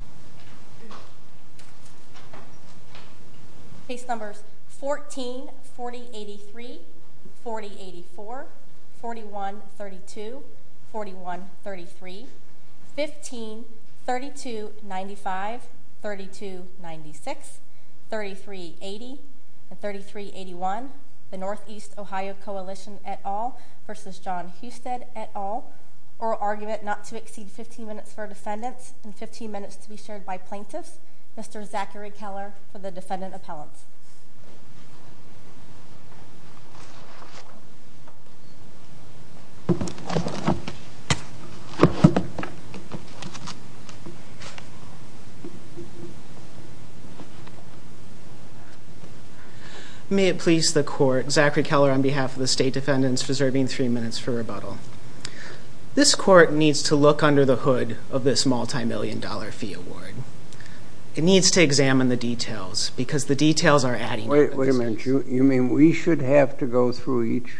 et al. Oral argument not to exceed 15 minutes for defendants and 15 minutes to make a motion. This motion is to be shared by plaintiffs. Mr. Zachary Keller for the defendant appellant. May it please the court. Zachary Keller on behalf of the state defendants reserving three minutes for rebuttal. This court needs to look under the hood of this multi-million dollar fee award. It needs to examine the details because the details are adding up. Wait a minute. You mean we should have to go through each?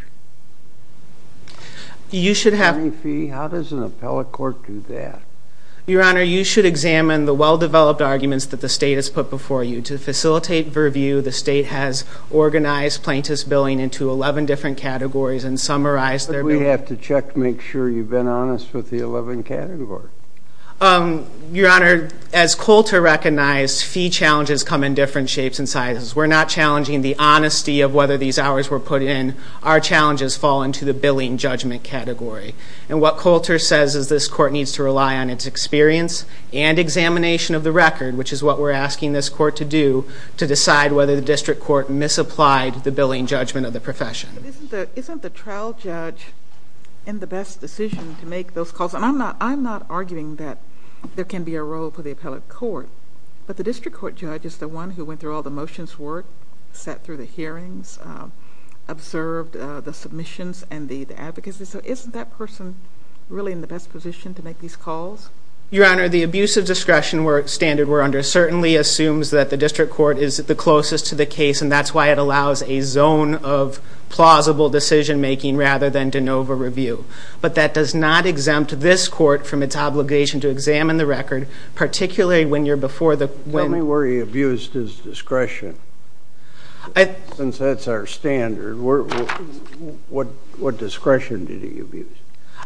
You should have... How does an appellate court do that? Your Honor, you should examine the well-developed arguments that the state has put before you. To facilitate review, the state has organized plaintiffs' billing into 11 different categories and summarized their billing. Do I have to check to make sure you've been honest with the 11 categories? Your Honor, as Coulter recognized, fee challenges come in different shapes and sizes. We're not challenging the honesty of whether these hours were put in. Our challenges fall into the billing judgment category. And what Coulter says is this court needs to rely on its experience and examination of the record, which is what we're asking this court to do to decide whether the district court misapplied the billing judgment of the profession. Isn't the trial judge in the best decision to make those calls? And I'm not arguing that there can be a role for the appellate court, but the district court judge is the one who went through all the motions, worked, sat through the hearings, observed the submissions and the advocacy. So isn't that person really in the best position to make these calls? Your Honor, the abuse of discretion standard we're under certainly assumes that the district court is the closest to the case, and that's why it allows a zone of plausible decision-making rather than de novo review. But that does not exempt this court from its obligation to examine the record, particularly when you're before the court. Tell me where he abused his discretion. Since that's our standard, what discretion did he abuse?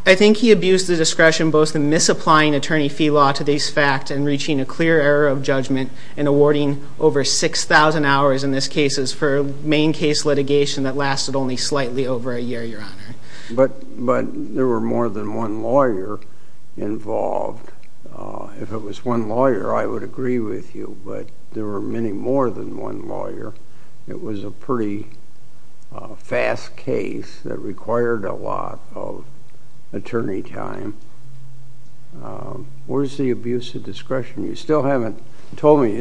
I think he abused the discretion both in misapplying attorney fee law to this fact and reaching a clear error of judgment and awarding over 6,000 hours in this case as per main case litigation that lasted only slightly over a year, Your Honor. But there were more than one lawyer involved. If it was one lawyer, I would agree with you, but there were many more than one lawyer. It was a pretty fast case that required a lot of attorney time. Where's the abuse of discretion? You still haven't told me.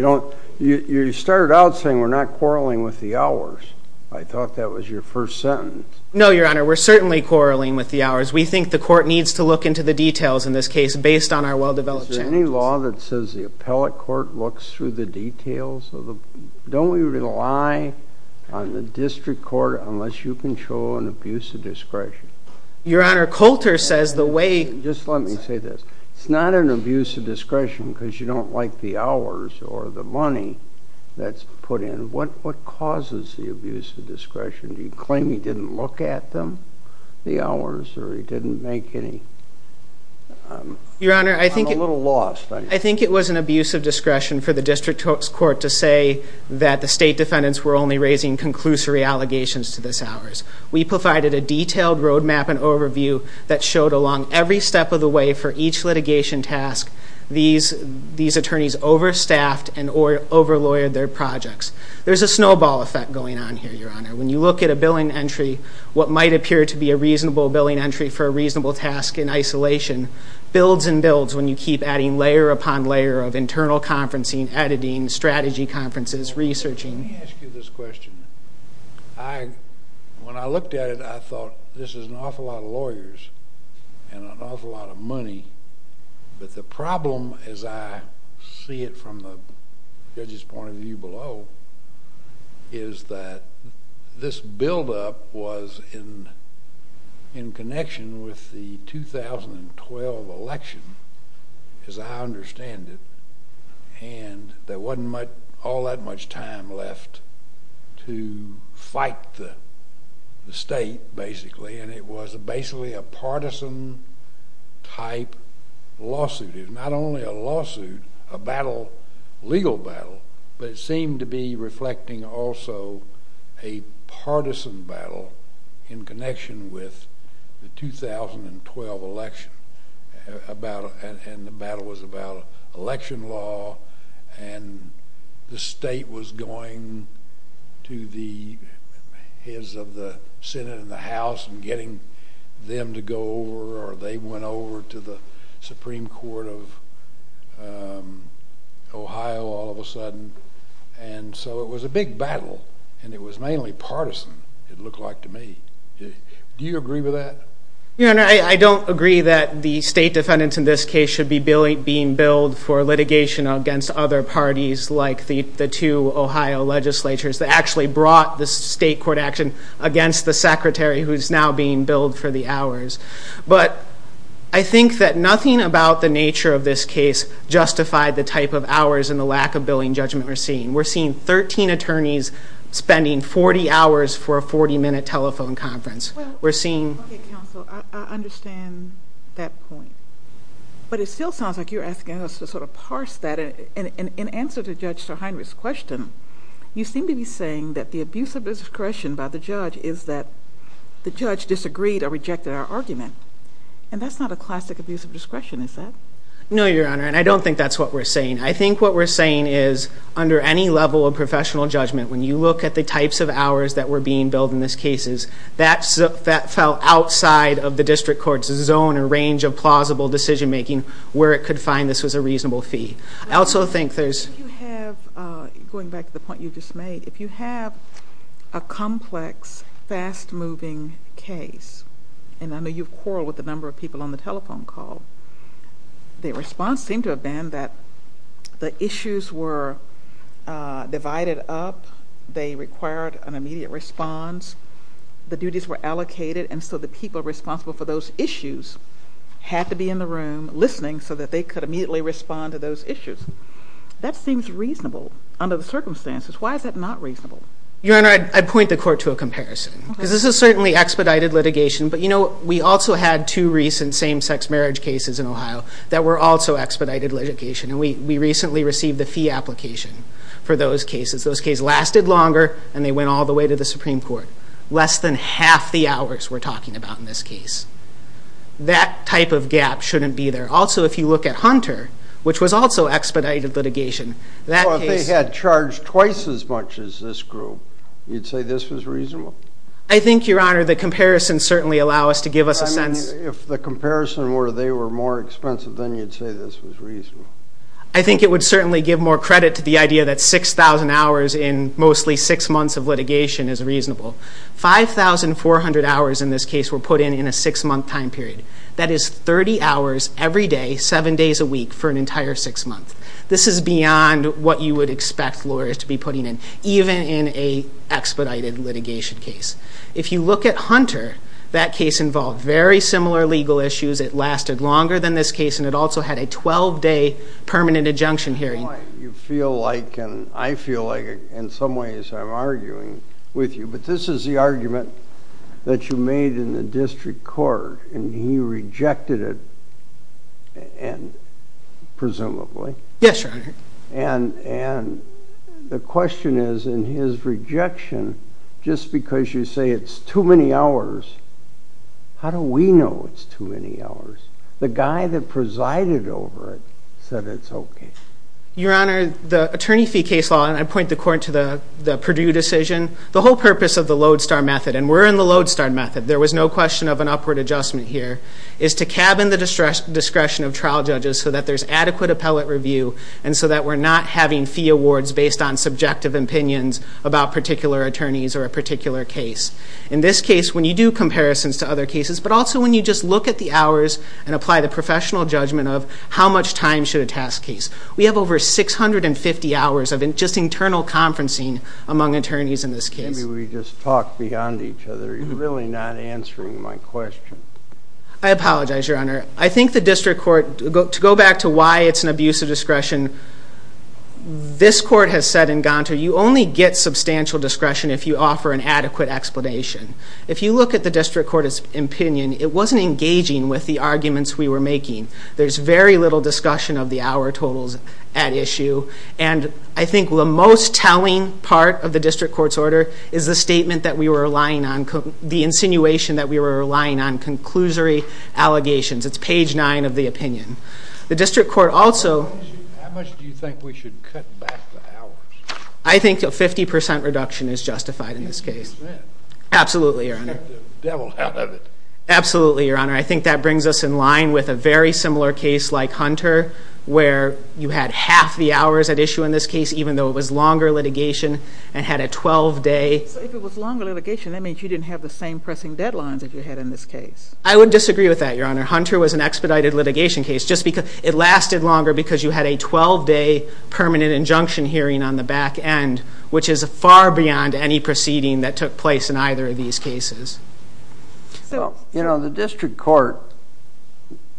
You started out saying we're not quarreling with the hours. I thought that was your first sentence. No, Your Honor, we're certainly quarreling with the hours. We think the court needs to look into the details in this case based on our well-developed challenges. Is there any law that says the appellate court looks through the details? Don't we rely on the district court unless you can show an abuse of discretion? Your Honor, Coulter says the way— Just let me say this. It's not an abuse of discretion because you don't like the hours or the money that's put in. What causes the abuse of discretion? Do you claim he didn't look at them, the hours, or he didn't make any— Your Honor, I think— I'm a little lost. I think it was an abuse of discretion for the district court to say that the state defendants were only raising conclusory allegations to this hours. We provided a detailed roadmap and overview that showed along every step of the way for each litigation task these attorneys overstaffed and overlawyered their projects. There's a snowball effect going on here, Your Honor. When you look at a billing entry, what might appear to be a reasonable billing entry for a reasonable task in isolation builds and builds when you keep adding layer upon layer of internal conferencing, editing, strategy conferences, researching. Let me ask you this question. When I looked at it, I thought this is an awful lot of lawyers and an awful lot of money, but the problem, as I see it from the judge's point of view below, is that this buildup was in connection with the 2012 election, as I understand it, and there wasn't all that much time left to fight the state, basically, and it was basically a partisan-type lawsuit. It was not only a lawsuit, a legal battle, but it seemed to be reflecting also a partisan battle in connection with the 2012 election, and the battle was about election law and the state was going to the heads of the Senate and the House and getting them to go over or they went over to the Supreme Court of Ohio all of a sudden, and so it was a big battle and it was mainly partisan. It looked like to me. Do you agree with that? I don't agree that the state defendants in this case should be being billed for litigation against other parties like the two Ohio legislatures that actually brought the state court action against the secretary who is now being billed for the hours, but I think that nothing about the nature of this case justified the type of hours and the lack of billing judgment we're seeing. We're seeing 13 attorneys spending 40 hours for a 40-minute telephone conference. Well, okay, counsel, I understand that point, but it still sounds like you're asking us to sort of parse that, and in answer to Judge Sirhindrick's question, you seem to be saying that the abuse of discretion by the judge is that the judge disagreed or rejected our argument, and that's not a classic abuse of discretion, is that? No, Your Honor, and I don't think that's what we're saying. I think what we're saying is under any level of professional judgment, when you look at the types of hours that were being billed in these cases, that fell outside of the district court's zone and range of plausible decision-making where it could find this was a reasonable fee. I also think there's... Going back to the point you just made, if you have a complex, fast-moving case, and I know you've quarreled with a number of people on the telephone call, the response seemed to have been that the issues were divided up, they required an immediate response, the duties were allocated, and so the people responsible for those issues had to be in the room listening so that they could immediately respond to those issues. That seems reasonable under the circumstances. Why is that not reasonable? Your Honor, I'd point the court to a comparison because this is certainly expedited litigation, but we also had two recent same-sex marriage cases in Ohio that were also expedited litigation, and we recently received the fee application for those cases. Those cases lasted longer, and they went all the way to the Supreme Court. Less than half the hours we're talking about in this case. That type of gap shouldn't be there. Also, if you look at Hunter, which was also expedited litigation, that case... Well, if they had charged twice as much as this group, you'd say this was reasonable? I think, Your Honor, the comparisons certainly allow us to give us a sense... I mean, if the comparison were they were more expensive, then you'd say this was reasonable. I think it would certainly give more credit to the idea that 6,000 hours in mostly six months of litigation is reasonable. 5,400 hours in this case were put in in a six-month time period. That is 30 hours every day, seven days a week, for an entire six months. This is beyond what you would expect lawyers to be putting in, even in an expedited litigation case. If you look at Hunter, that case involved very similar legal issues. It lasted longer than this case, and it also had a 12-day permanent injunction hearing. You feel like, and I feel like in some ways I'm arguing with you, but this is the argument that you made in the district court, Yes, Your Honor. and the question is, in his rejection, just because you say it's too many hours, how do we know it's too many hours? The guy that presided over it said it's okay. Your Honor, the attorney fee case law, and I point the court to the Perdue decision, the whole purpose of the Lodestar method, and we're in the Lodestar method, there was no question of an upward adjustment here, is to cabin the discretion of trial judges so that there's adequate appellate review and so that we're not having fee awards based on subjective opinions about particular attorneys or a particular case. In this case, when you do comparisons to other cases, but also when you just look at the hours and apply the professional judgment of how much time should a task case. We have over 650 hours of just internal conferencing among attorneys in this case. Maybe we just talk beyond each other. You're really not answering my question. I apologize, Your Honor. I think the district court, to go back to why it's an abuse of discretion, this court has said in Gonto, you only get substantial discretion if you offer an adequate explanation. If you look at the district court's opinion, it wasn't engaging with the arguments we were making. There's very little discussion of the hour totals at issue, and I think the most telling part of the district court's order is the statement that we were relying on, the insinuation that we were relying on, the conclusory allegations. It's page nine of the opinion. The district court also... How much do you think we should cut back the hours? I think a 50% reduction is justified in this case. 50%? Absolutely, Your Honor. Get the devil out of it. Absolutely, Your Honor. I think that brings us in line with a very similar case like Hunter, where you had half the hours at issue in this case, even though it was longer litigation and had a 12-day... If it was longer litigation, that means you didn't have the same pressing deadlines that you had in this case. I would disagree with that, Your Honor. Hunter was an expedited litigation case. It lasted longer because you had a 12-day permanent injunction hearing on the back end, which is far beyond any proceeding that took place in either of these cases. The district court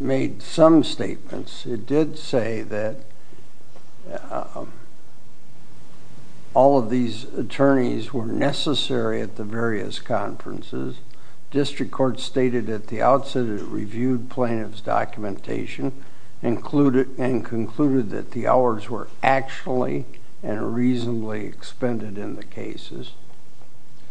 made some statements. It did say that all of these attorneys were necessary at the various conferences. District court stated at the outset it reviewed plaintiff's documentation and concluded that the hours were actually and reasonably expended in the cases.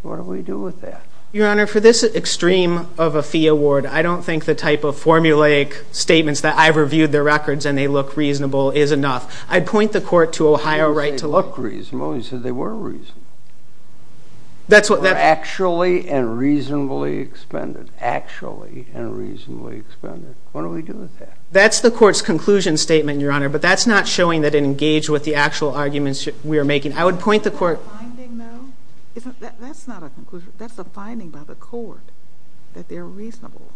What do we do with that? Your Honor, for this extreme of a fee award, I don't think the type of formulaic statements that I've reviewed their records and they look reasonable is enough. I'd point the court to Ohio right to look reasonable. You said they were reasonable. They were actually and reasonably expended. Actually and reasonably expended. What do we do with that? That's the court's conclusion statement, Your Honor, but that's not showing that it engaged with the actual arguments we are making. I would point the court... Isn't that a finding, though? That's not a conclusion. That's a finding by the court that they're reasonable.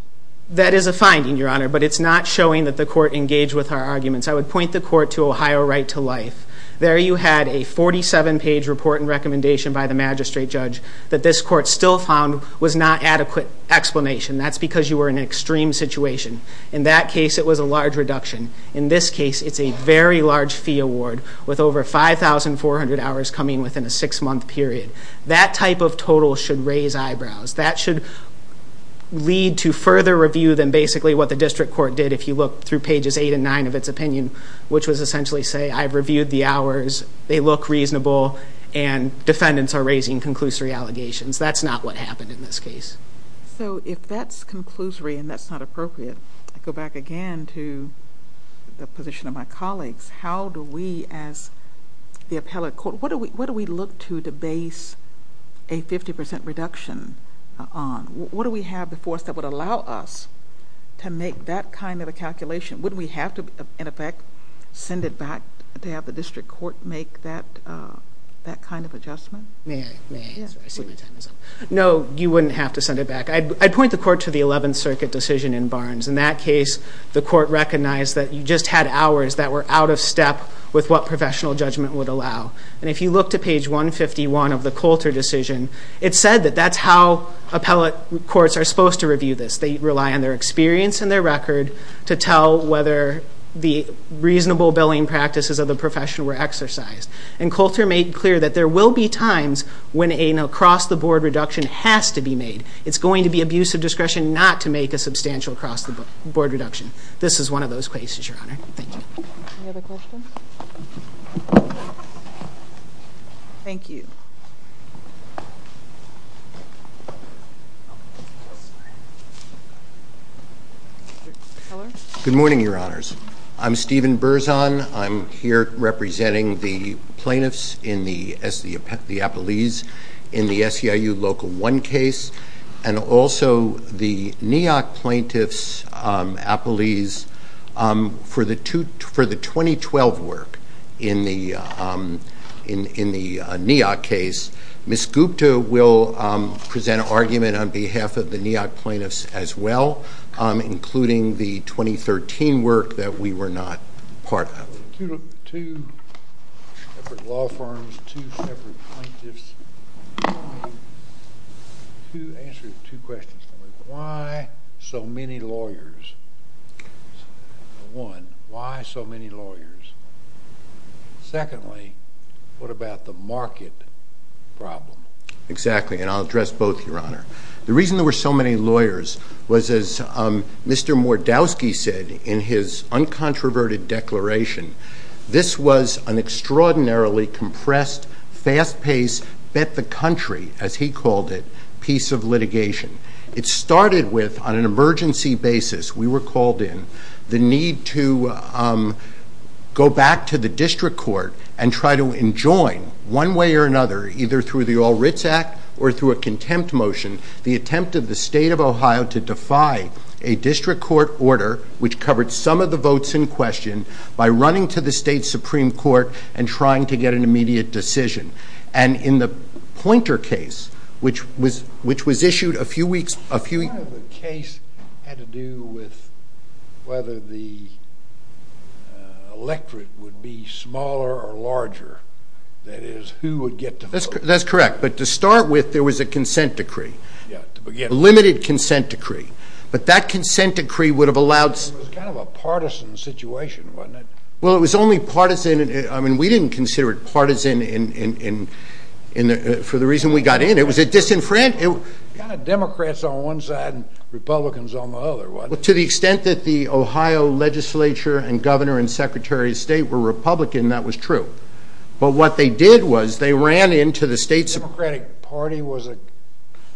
That is a finding, Your Honor, but it's not showing that the court engaged with our arguments. I would point the court to Ohio right to life. There you had a 47-page report and recommendation by the magistrate judge that this court still found was not adequate explanation. That's because you were in an extreme situation. In that case, it was a large reduction. In this case, it's a very large fee award with over 5,400 hours coming within a six-month period. That type of total should raise eyebrows. That should lead to further review than basically what the district court did if you look through pages 8 and 9 of its opinion, which was essentially say, I've reviewed the hours, they look reasonable, and defendants are raising conclusory allegations. That's not what happened in this case. So if that's conclusory and that's not appropriate, I go back again to the position of my colleagues. How do we, as the appellate court, what do we look to to base a 50% reduction on? What do we have before us that would allow us to make that kind of a calculation? Wouldn't we have to, in effect, send it back to have the district court make that kind of adjustment? May I answer? I see my time is up. No, you wouldn't have to send it back. I'd point the court to the 11th Circuit decision in Barnes. In that case, the court recognized that you just had hours that were out of step with what professional judgment would allow. And if you look to page 151 of the Coulter decision, it said that that's how appellate courts are supposed to review this. They rely on their experience and their record to tell whether the reasonable billing practices of the professional were exercised. And Coulter made clear that there will be times when an across-the-board reduction has to be made. It's going to be abuse of discretion not to make a substantial across-the-board reduction. This is one of those cases, Your Honor. Thank you. Any other questions? Thank you. Good morning, Your Honors. I'm Stephen Berzon. I'm here representing the plaintiffs in the appellees in the SEIU Local 1 case and also the NEOC plaintiffs' appellees for the 2012 work in the NEOC case. Ms. Gupta will present an argument on behalf of the NEOC plaintiffs as well, including the 2013 work that we were not part of. Two law firms, two separate plaintiffs. Two answers to two questions. Why so many lawyers? One, why so many lawyers? Secondly, what about the market problem? Exactly, and I'll address both, Your Honor. The reason there were so many lawyers was, as Mr. Mordowski said in his uncontroverted declaration, this was an extraordinarily compressed, fast-paced, bet-the-country, as he called it, piece of litigation. It started with, on an emergency basis, we were called in, the need to go back to the district court and try to enjoin, one way or another, either through the All Writs Act or through a contempt motion, the attempt of the State of Ohio to defy a district court order which covered some of the votes in question by running to the state Supreme Court and trying to get an immediate decision. And in the Poynter case, which was issued a few weeks... Part of the case had to do with whether the electorate would be smaller or larger. That is, who would get to vote. That's correct. But to start with, there was a consent decree. A limited consent decree. But that consent decree would have allowed... It was kind of a partisan situation, wasn't it? Well, it was only partisan... I mean, we didn't consider it partisan for the reason we got in. It was a disenfranchisement... Democrats on one side and Republicans on the other, wasn't it? To the extent that the Ohio legislature and governor and secretary of state were Republican, that was true. But what they did was they ran into the state... The Democratic Party was a...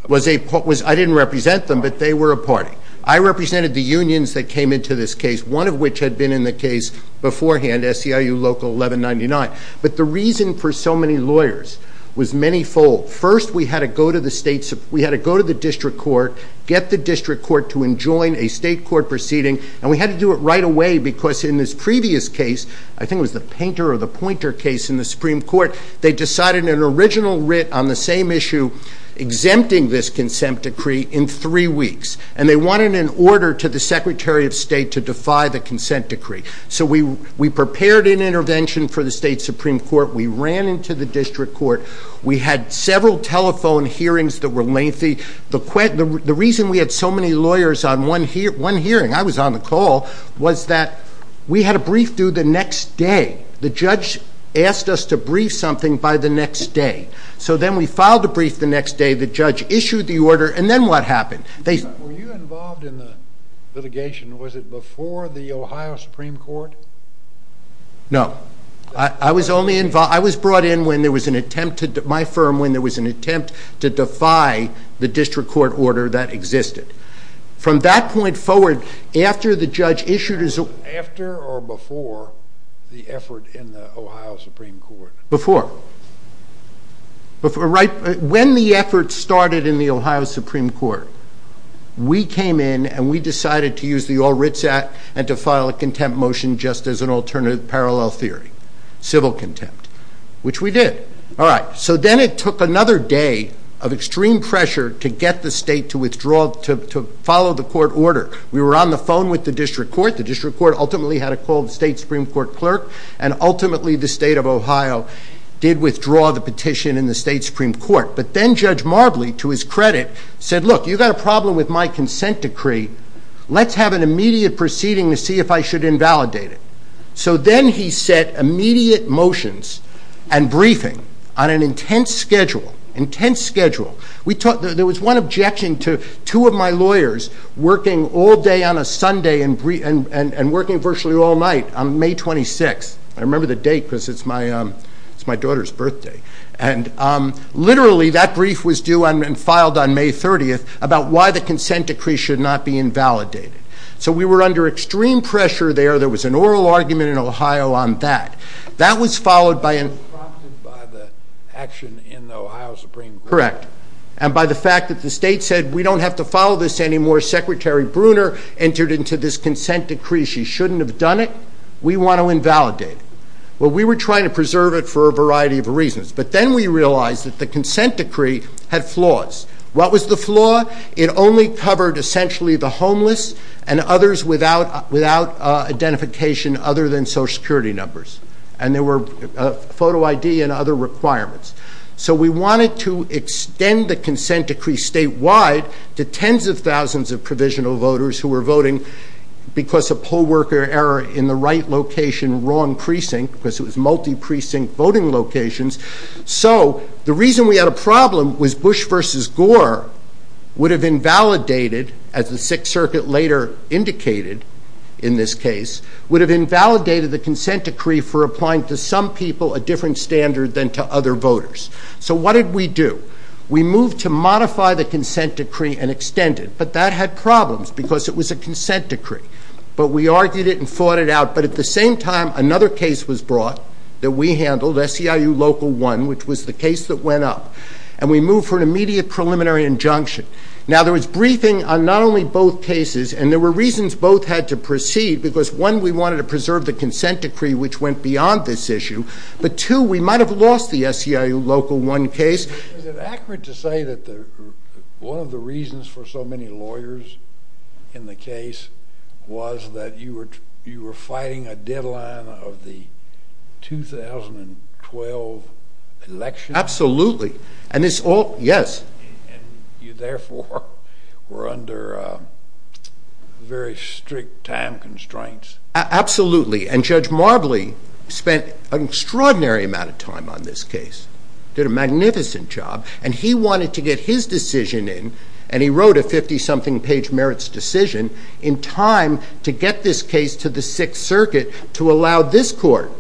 I didn't represent them, but they were a party. I represented the unions that came into this case, one of which had been in the case beforehand, SEIU Local 1199. But the reason for so many lawyers was manyfold. First, we had to go to the district court, get the district court to enjoin a state court proceeding, and we had to do it right away because in this previous case, I think it was the Poynter case in the Supreme Court, they decided an original writ on the same issue, exempting this consent decree in three weeks. And they wanted an order to the secretary of state to defy the consent decree. So we prepared an intervention for the state Supreme Court. We ran into the district court. We had several telephone hearings that were lengthy. The reason we had so many lawyers on one hearing, I was on the call, was that we had a brief due the next day. The judge asked us to brief something by the next day. So then we filed the brief the next day. The judge issued the order, and then what happened? Were you involved in the litigation? Was it before the Ohio Supreme Court? No. I was brought in when there was an attempt to, my firm, when there was an attempt to defy the district court order that existed. From that point forward, after the judge issued his... After or before the effort in the Ohio Supreme Court? Before. When the effort started in the Ohio Supreme Court, we came in and we decided to use the All Writs Act and to file a contempt motion just as an alternative parallel theory, civil contempt, which we did. All right. So then it took another day of extreme pressure to get the state to withdraw, to follow the court order. We were on the phone with the district court. The district court ultimately had a call with the state Supreme Court clerk, and ultimately the state of Ohio did withdraw the petition in the state Supreme Court. But then Judge Marbley, to his credit, said, look, you've got a problem with my consent decree. Let's have an immediate proceeding to see if I should invalidate it. So then he set immediate motions and briefing on an intense schedule, intense schedule. There was one objection to two of my lawyers working all day on a Sunday and working virtually all night on May 26th. I remember the date because it's my daughter's birthday. And literally, that brief was due and filed on May 30th about why the consent decree should not be invalidated. So we were under extreme pressure there. There was an oral argument in Ohio on that. That was followed by an... It was prompted by the action in the Ohio Supreme Court. Correct. And by the fact that the state said, we don't have to follow this anymore. Secretary Bruner entered into this consent decree. She shouldn't have done it. We want to invalidate it. Well, we were trying to preserve it for a variety of reasons. But then we realized that the consent decree had flaws. What was the flaw? It only covered essentially the homeless and others without identification other than Social Security numbers. And there were photo ID and other requirements. So we wanted to extend the consent decree statewide to tens of thousands of provisional voters who were voting because of poll worker error in the right location, wrong precinct, because it was multi-precinct voting locations. So the reason we had a problem was Bush v. Gore would have invalidated, as the Sixth Circuit later indicated in this case, would have invalidated the consent decree for applying to some people a different standard than to other voters. So what did we do? We moved to modify the consent decree and extend it. But that had problems because it was a consent decree. But we argued it and fought it out. But at the same time, another case was brought that we handled, SEIU Local 1, which was the case that went up. And we moved for an immediate preliminary injunction. Now, there was briefing on not only both cases, and there were reasons both had to proceed because, one, we wanted to preserve the consent decree, which went beyond this issue. But, two, we might have lost the SEIU Local 1 case. Is it accurate to say that one of the reasons for so many lawyers in the case was that you were fighting a deadline of the 2012 election? Absolutely. And this all... Yes. And you, therefore, were under very strict time constraints. Absolutely. And Judge Marbley spent an extraordinary amount of time on this case. Did a magnificent job. And he wanted to get his decision in, and he wrote a 50-something-page merits decision, in time to get this case to the Sixth Circuit to allow this court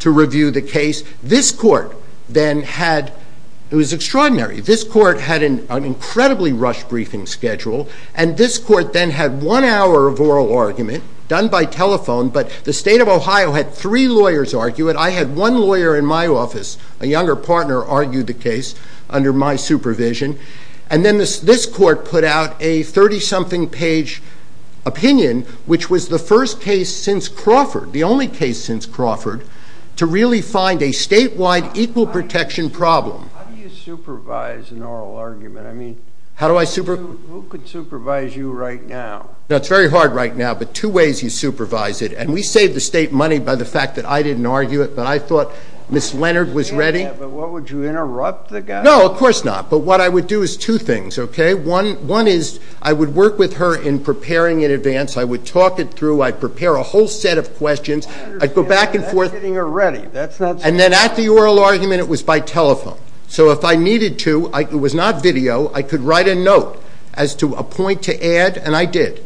to review the case. This court then had... It was extraordinary. This court had an incredibly rushed briefing schedule. And this court then had one hour of oral argument, done by telephone, but the state of Ohio had three lawyers argue it. I had one lawyer in my office, a younger partner, argue the case under my supervision. And then this court put out a 30-something-page opinion, which was the first case since Crawford, the only case since Crawford, to really find a statewide equal protection problem. How do you supervise an oral argument? I mean, who could supervise you right now? It's very hard right now, but two ways you supervise it. And we saved the state money by the fact that I didn't argue it, but I thought Ms. Leonard was ready. But would you interrupt the guy? No, of course not. But what I would do is two things, okay? One is I would work with her in preparing in advance. I would talk it through. I'd prepare a whole set of questions. I'd go back and forth. And then at the oral argument, it was by telephone. So if I needed to, it was not video, I could write a note as to a point to add, and I did.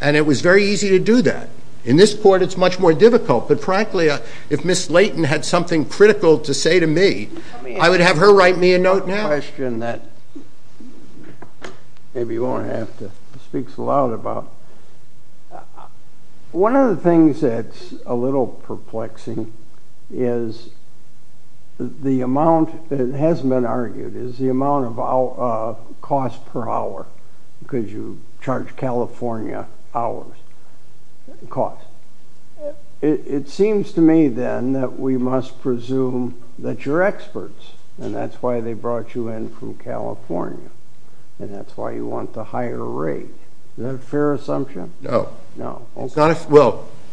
And it was very easy to do that. In this court, it's much more difficult. But frankly, if Ms. Leighton had something critical to say to me, I would have her write me a note now. I have a question that maybe you won't have to speak so loud about. One of the things that's a little perplexing is the amount that has been argued, is the amount of cost per hour, because you charge California hours, cost. It seems to me, then, that we must presume that you're experts, and that's why they brought you in from California, and that's why you want the higher rate. Is that a fair assumption? No. Well, it's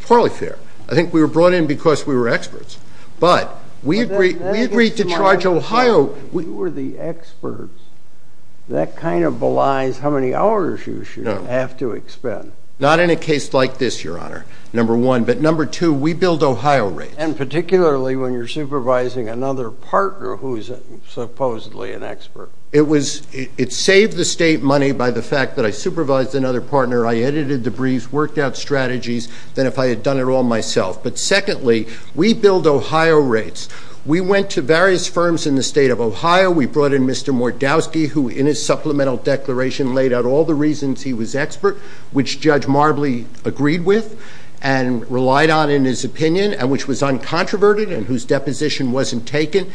probably fair. I think we were brought in because we were experts. But we agreed to charge Ohio. We were the experts. That kind of belies how many hours you should have to expend. Not in a case like this, Your Honor, number one. But number two, we build Ohio rates. And particularly when you're supervising another partner who is supposedly an expert. It saved the state money by the fact that I supervised another partner, I edited debriefs, worked out strategies, than if I had done it all myself. But secondly, we build Ohio rates. We went to various firms in the state of Ohio. We brought in Mr. Mordowski, who, in his supplemental declaration, laid out all the reasons he was expert, which Judge Marbley agreed with and relied on in his opinion, which was uncontroverted and whose deposition wasn't taken.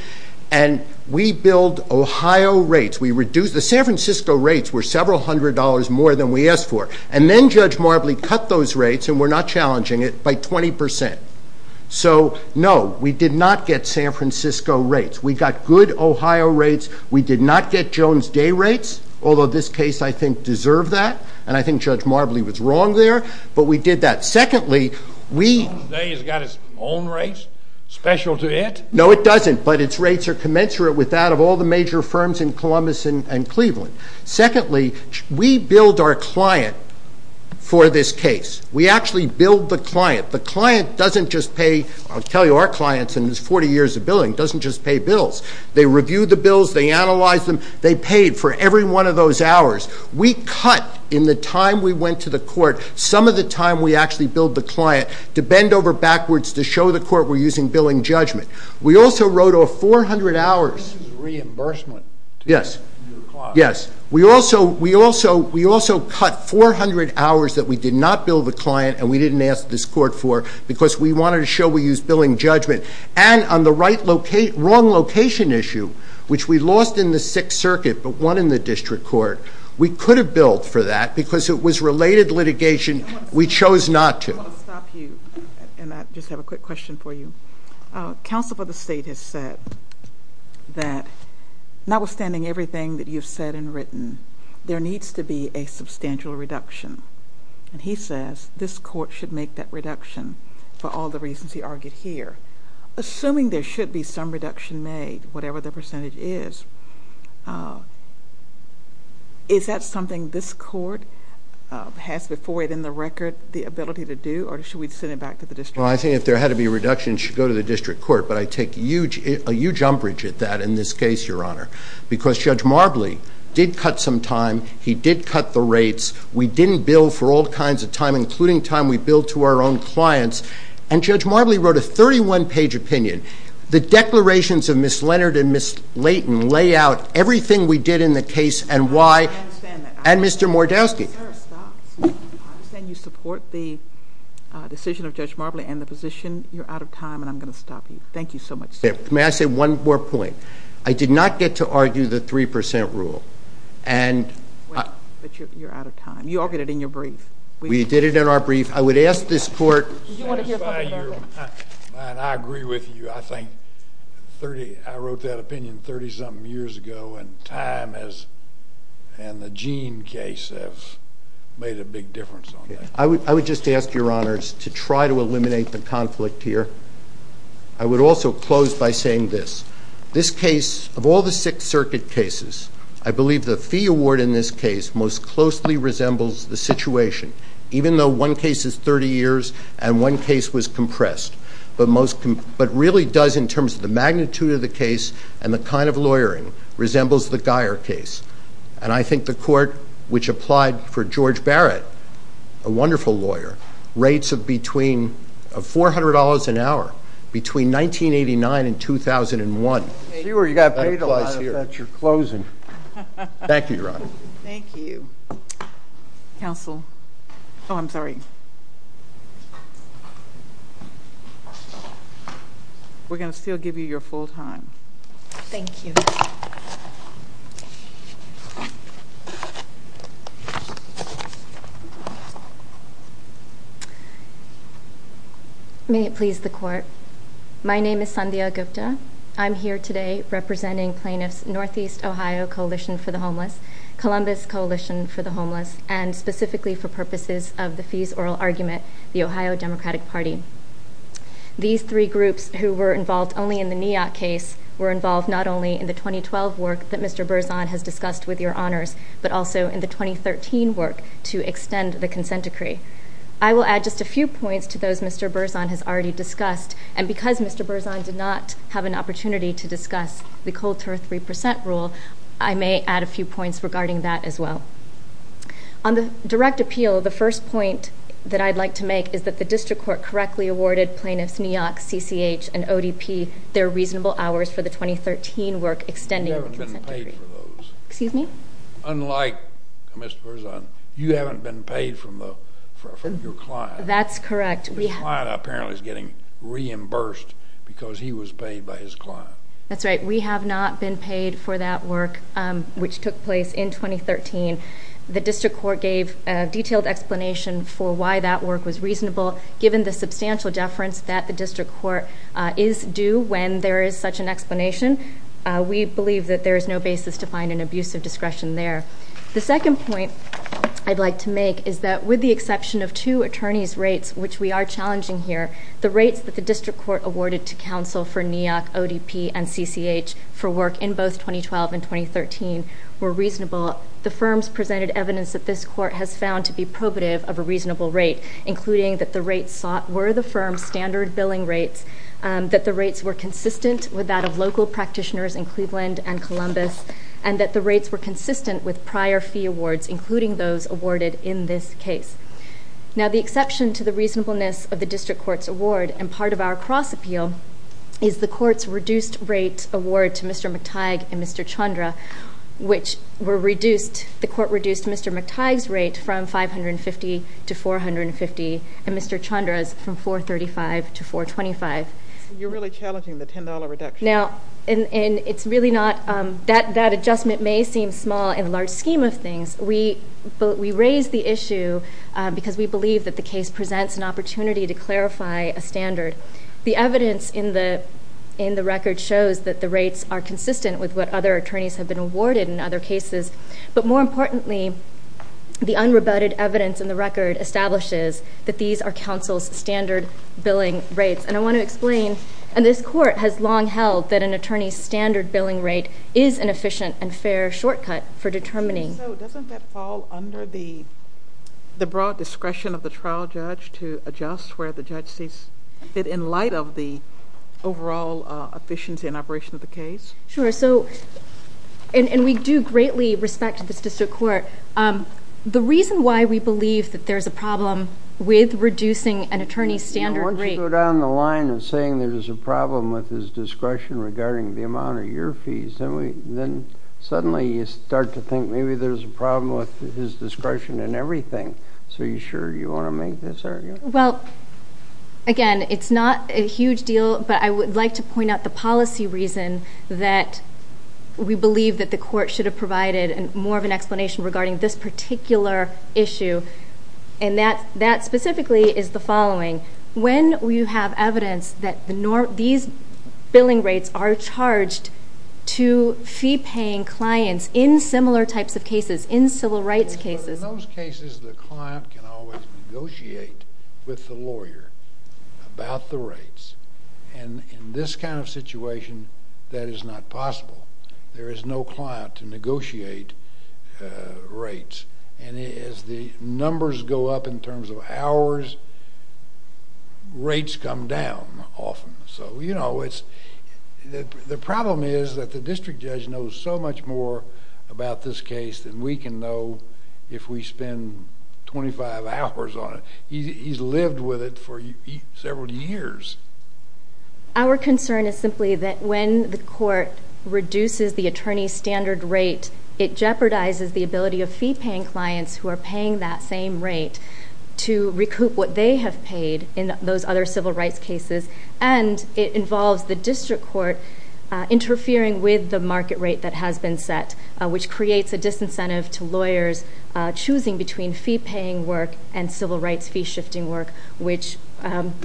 And we build Ohio rates. The San Francisco rates were several hundred dollars more than we asked for. And then Judge Marbley cut those rates, and we're not challenging it, by 20%. So, no, we did not get San Francisco rates. We got good Ohio rates. We did not get Jones Day rates, although this case, I think, deserved that. And I think Judge Marbley was wrong there. But we did that. Secondly, we... Jones Day has got its own rates? Special to it? No, it doesn't. But its rates are commensurate with that of all the major firms in Columbus and Cleveland. Secondly, we build our client for this case. We actually build the client. The client doesn't just pay... I'll tell you, our clients in these 40 years of billing doesn't just pay bills. They review the bills. They analyze them. They paid for every one of those hours. We cut, in the time we went to the court, some of the time we actually billed the client to bend over backwards to show the court we're using billing judgment. We also wrote off 400 hours... This is reimbursement. Yes. Yes. We also cut 400 hours that we did not bill the client and we didn't ask this court for because we wanted to show we use billing judgment. And on the wrong location issue, which we lost in the Sixth Circuit but won in the district court, we could have billed for that because it was related litigation we chose not to. I want to stop you, and I just have a quick question for you. Counsel for the State has said that notwithstanding everything that you've said and written, there needs to be a substantial reduction. And he says this court should make that reduction for all the reasons he argued here. Assuming there should be some reduction made, whatever the percentage is, is that something this court has before it in the record the ability to do or should we send it back to the district? Well, I think if there had to be a reduction, it should go to the district court. But I take a huge umbrage at that in this case, Your Honor, because Judge Marbley did cut some time. He did cut the rates. We didn't bill for all kinds of time, including time we bill to our own clients. And Judge Marbley wrote a 31-page opinion. The declarations of Ms. Leonard and Ms. Layton lay out everything we did in the case and why. I understand that. And Mr. Mordowski. I understand you support the decision of Judge Marbley and the position. You're out of time, and I'm going to stop you. Thank you so much. May I say one more point? I did not get to argue the 3% rule. But you're out of time. You argued it in your brief. We did it in our brief. I would ask this court to satisfy you. And I agree with you. I wrote that opinion 30-something years ago, and time and the Gene case have made a big difference on that. I would just ask, Your Honors, to try to eliminate the conflict here. I would also close by saying this. This case, of all the Sixth Circuit cases, I believe the fee award in this case most closely resembles the situation, even though one case is 30 years and one case was compressed. But really does, in terms of the magnitude of the case and the kind of lawyering, resembles the Geyer case. And I think the court which applied for George Barrett, a wonderful lawyer, rates between $400 an hour between 1989 and 2001. You got paid a lot. I thought you were closing. Thank you, Your Honor. Thank you. Counsel. Oh, I'm sorry. We're going to still give you your full time. Thank you. May it please the Court. My name is Sandhya Gupta. I'm here today representing plaintiffs Northeast Ohio Coalition for the Homeless, Columbus Coalition for the Homeless, and specifically for purposes of the fees oral argument, the Ohio Democratic Party. These three groups who were involved only in the Neoc case were involved not only in the 2012 work that Mr. Berzon has discussed with your honors, but also in the 2013 work to extend the consent decree. I will add just a few points to those Mr. Berzon has already discussed, and because Mr. Berzon did not have an opportunity to discuss the Colter 3% rule, I may add a few points regarding that as well. On the direct appeal, the first point that I'd like to make is that the district court correctly awarded plaintiffs Neoc, CCH, and ODP their reasonable hours for the 2013 work extending the consent decree. You haven't been paid for those. Excuse me? Unlike Mr. Berzon, you haven't been paid from your client. That's correct. The client apparently is getting reimbursed because he was paid by his client. That's right. We have not been paid for that work, which took place in 2013. The district court gave a detailed explanation for why that work was reasonable. Given the substantial deference that the district court is due when there is such an explanation, we believe that there is no basis to find an abuse of discretion there. The second point I'd like to make is that with the exception of two attorneys' rates, which we are challenging here, the rates that the district court awarded to counsel for Neoc, ODP, and CCH for work in both 2012 and 2013 were reasonable. The firms presented evidence that this court has found to be probative of a reasonable rate, including that the rates were the firm's standard billing rates, that the rates were consistent with that of local practitioners in Cleveland and Columbus, and that the rates were consistent with prior fee awards, including those awarded in this case. Now, the exception to the reasonableness of the district court's award and part of our cross-appeal is the court's reduced rate award to Mr. McTighe and Mr. Chandra, which the court reduced Mr. McTighe's rate from 550 to 450, and Mr. Chandra's from 435 to 425. You're really challenging the $10 reduction. Now, that adjustment may seem small in the large scheme of things, but we raise the issue because we believe that the case presents an opportunity to clarify a standard. The evidence in the record shows that the rates are consistent with what other attorneys have been awarded in other cases, but more importantly, the unrebutted evidence in the record establishes that these are counsel's standard billing rates, and I want to explain that this court has long held that an attorney's standard billing rate is an efficient and fair shortcut for determining... So, doesn't that fall under the broad discretion of the trial judge to adjust where the judge sees fit in light of the overall efficiency and operation of the case? Sure. So, and we do greatly respect this district court. The reason why we believe that there's a problem with reducing an attorney's standard rate... Once you go down the line of saying there's a problem with his discretion regarding the amount of your fees, then suddenly you start to think maybe there's a problem with his discretion in everything. So, are you sure you want to make this argument? Well, again, it's not a huge deal, but I would like to point out the policy reason that we believe that the court should have provided more of an explanation regarding this particular issue, and that specifically is the following. When you have evidence that these billing rates are charged to fee-paying clients in similar types of cases, in civil rights cases... In those cases, the client can always negotiate with the lawyer about the rates, and in this kind of situation, that is not possible. There is no client to negotiate rates, and as the numbers go up in terms of hours, rates come down often. So, you know, it's... The problem is that the district judge knows so much more about this case than we can know if we spend 25 hours on it. He's lived with it for several years. Our concern is simply that when the court reduces the attorney's standard rate, it jeopardizes the ability of fee-paying clients who are paying that same rate to recoup what they have paid in those other civil rights cases, and it involves the district court interfering with the market rate that has been set, which creates a disincentive to lawyers choosing between fee-paying work and civil rights fee-shifting work, which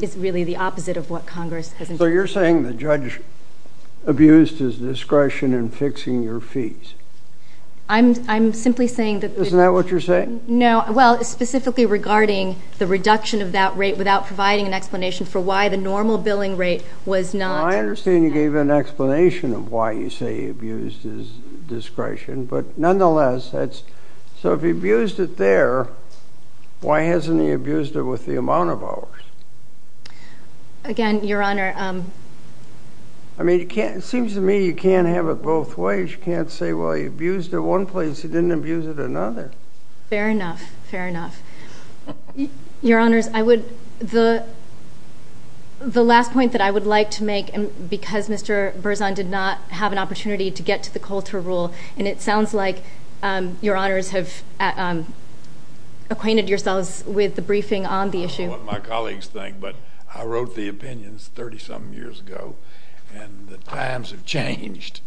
is really the opposite of what Congress... So you're saying the judge abused his discretion in fixing your fees? I'm simply saying that... Isn't that what you're saying? No. Well, specifically regarding the reduction of that rate without providing an explanation for why the normal billing rate was not... Well, I understand you gave an explanation of why you say he abused his discretion, but nonetheless, that's... So if he abused it there, why hasn't he abused it with the amount of hours? Again, Your Honor... I mean, it seems to me you can't have it both ways. You can't say, well, he abused it one place, he didn't abuse it another. Fair enough. Fair enough. Your Honors, I would... The last point that I would like to make, because Mr. Berzon did not have an opportunity to get to the Coulter rule, and it sounds like Your Honors have acquainted yourselves with the briefing on the issue. I don't know what my colleagues think, but I wrote the opinions 30-some years ago, and the times have changed,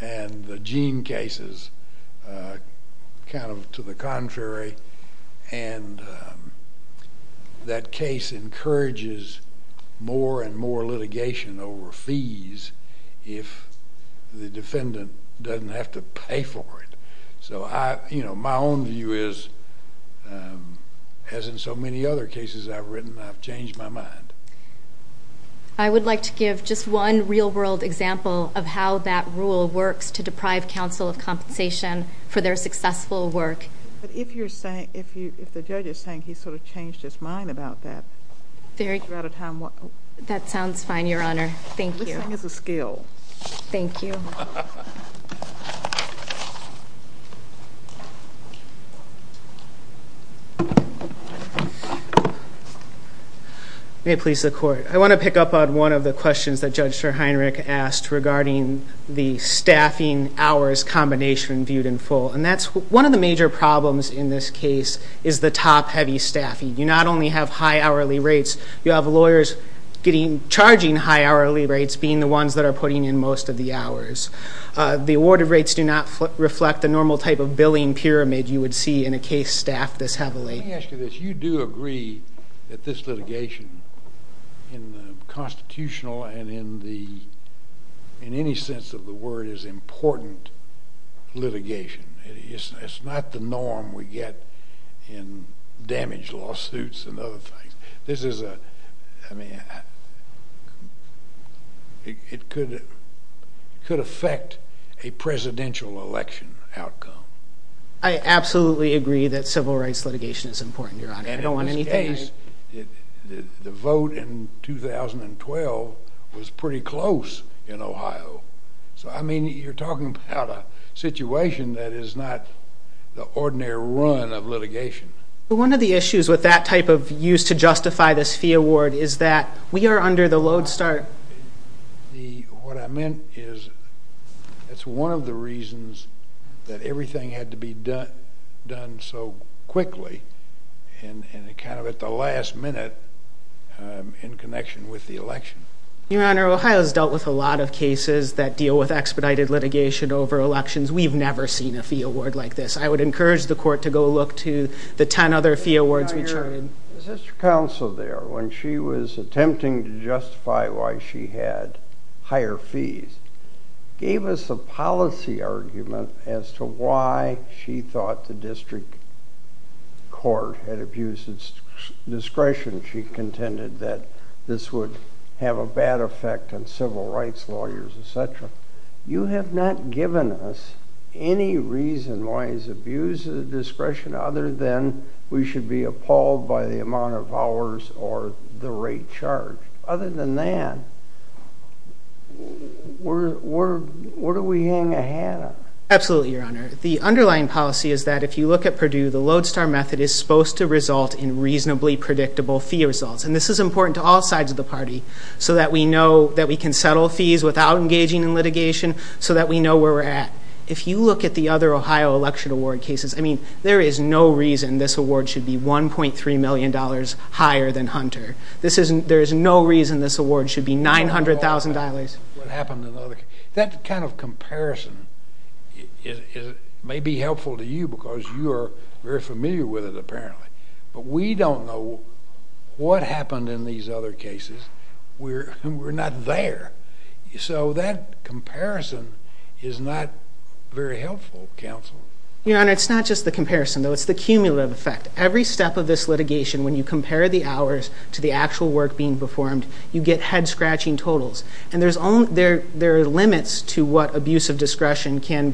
and the Jean case is kind of to the contrary, and that case encourages more and more litigation over fees if the defendant doesn't have to pay for it. So my own view is, as in so many other cases I've written, I've changed my mind. I would like to give just one real-world example of how that rule works to deprive counsel of compensation for their successful work. But if the judge is saying he sort of changed his mind about that... That sounds fine, Your Honor. Thank you. Listening is a skill. Thank you. May it please the Court. I want to pick up on one of the questions that Judge Schorheinrich asked regarding the staffing hours combination viewed in full, and that's one of the major problems in this case is the top-heavy staffing. You not only have high hourly rates, you have lawyers charging high hourly rates, the awarded rates do not reflect the normal type of billing pyramid you would see in a case staffed this heavily. Let me ask you this. You do agree that this litigation in the constitutional and in any sense of the word is important litigation. It's not the norm we get in damage lawsuits and other things. This is a, I mean, it could affect a presidential election outcome. I absolutely agree that civil rights litigation is important, Your Honor. And in this case, the vote in 2012 was pretty close in Ohio. So, I mean, you're talking about a situation that is not the ordinary run of litigation. One of the issues with that type of use to justify this fee award is that we are under the load start. What I meant is it's one of the reasons that everything had to be done so quickly and kind of at the last minute in connection with the election. Your Honor, Ohio's dealt with a lot of cases that deal with expedited litigation over elections. We've never seen a fee award like this. I would encourage the court to go look to the 10 other fee awards we charted. The sister counsel there, when she was attempting to justify why she had higher fees, gave us a policy argument as to why she thought the district court had abused its discretion. She contended that this would have a bad effect on civil rights lawyers, et cetera. You have not given us any reason why it's abused the discretion other than we should be appalled by the amount of hours or the rate charged. Other than that, where do we hang a hat? Absolutely, Your Honor. The underlying policy is that if you look at Purdue, the load start method is supposed to result in reasonably predictable fee results. And this is important to all sides of the party so that we know that we can settle fees without engaging in litigation, so that we know where we're at. If you look at the other Ohio election award cases, there is no reason this award should be $1.3 million higher than Hunter. There is no reason this award should be $900,000. That kind of comparison may be helpful to you because you are very familiar with it, apparently. But we don't know what happened in these other cases. We're not there. So that comparison is not very helpful, counsel. Your Honor, it's not just the comparison, though. It's the cumulative effect. Every step of this litigation, when you compare the hours to the actual work being performed, you get head-scratching totals. And there are limits to what abuse of discretion can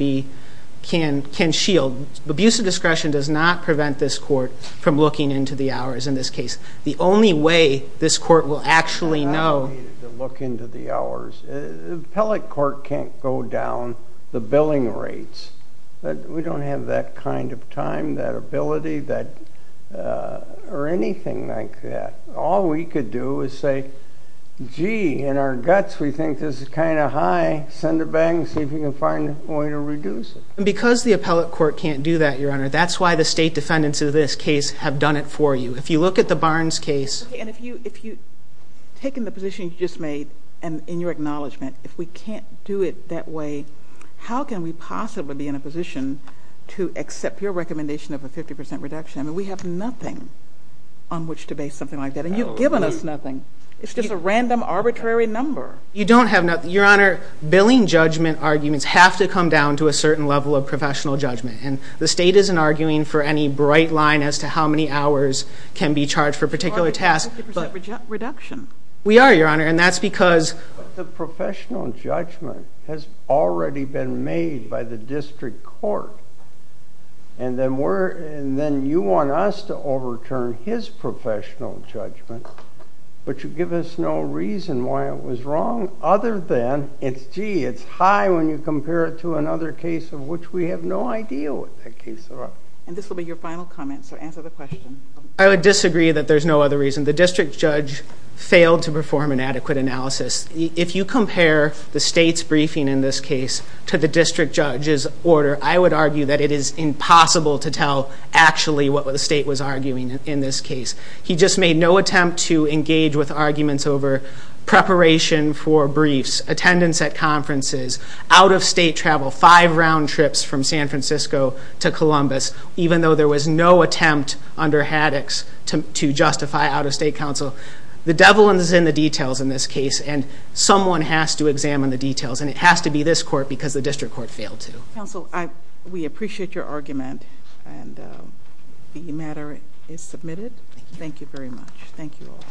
shield. Abuse of discretion does not prevent this court from looking into the hours in this case. The only way this court will actually know. Look into the hours. The appellate court can't go down the billing rates. We don't have that kind of time, that ability, or anything like that. All we could do is say, gee, in our guts we think this is kind of high. Send it back and see if we can find a way to reduce it. And because the appellate court can't do that, Your Honor, that's why the state defendants of this case have done it for you. If you look at the Barnes case. And if you've taken the position you just made, and in your acknowledgement, if we can't do it that way, how can we possibly be in a position to accept your recommendation of a 50% reduction? I mean, we have nothing on which to base something like that. And you've given us nothing. It's just a random, arbitrary number. You don't have nothing. Your Honor, billing judgment arguments have to come down to a certain level of professional judgment. And the state isn't arguing for any bright line as to how many hours can be charged for a particular task. But 50% reduction. We are, Your Honor, and that's because... But the professional judgment has already been made by the district court. And then you want us to overturn his professional judgment, but you give us no reason why it was wrong other than, gee, it's high when you compare it to another case of which we have no idea what that case was. And this will be your final comment, so answer the question. I would disagree that there's no other reason. The district judge failed to perform an adequate analysis. If you compare the state's briefing in this case to the district judge's order, I would argue that it is impossible to tell actually what the state was arguing in this case. He just made no attempt to engage with arguments over preparation for briefs, attendance at conferences, out-of-state travel, five round trips from San Francisco to Columbus, even though there was no attempt under Haddox to justify out-of-state counsel. The devil is in the details in this case, and someone has to examine the details, and it has to be this court because the district court failed to. Counsel, we appreciate your argument, and the matter is submitted. Thank you very much. Thank you all.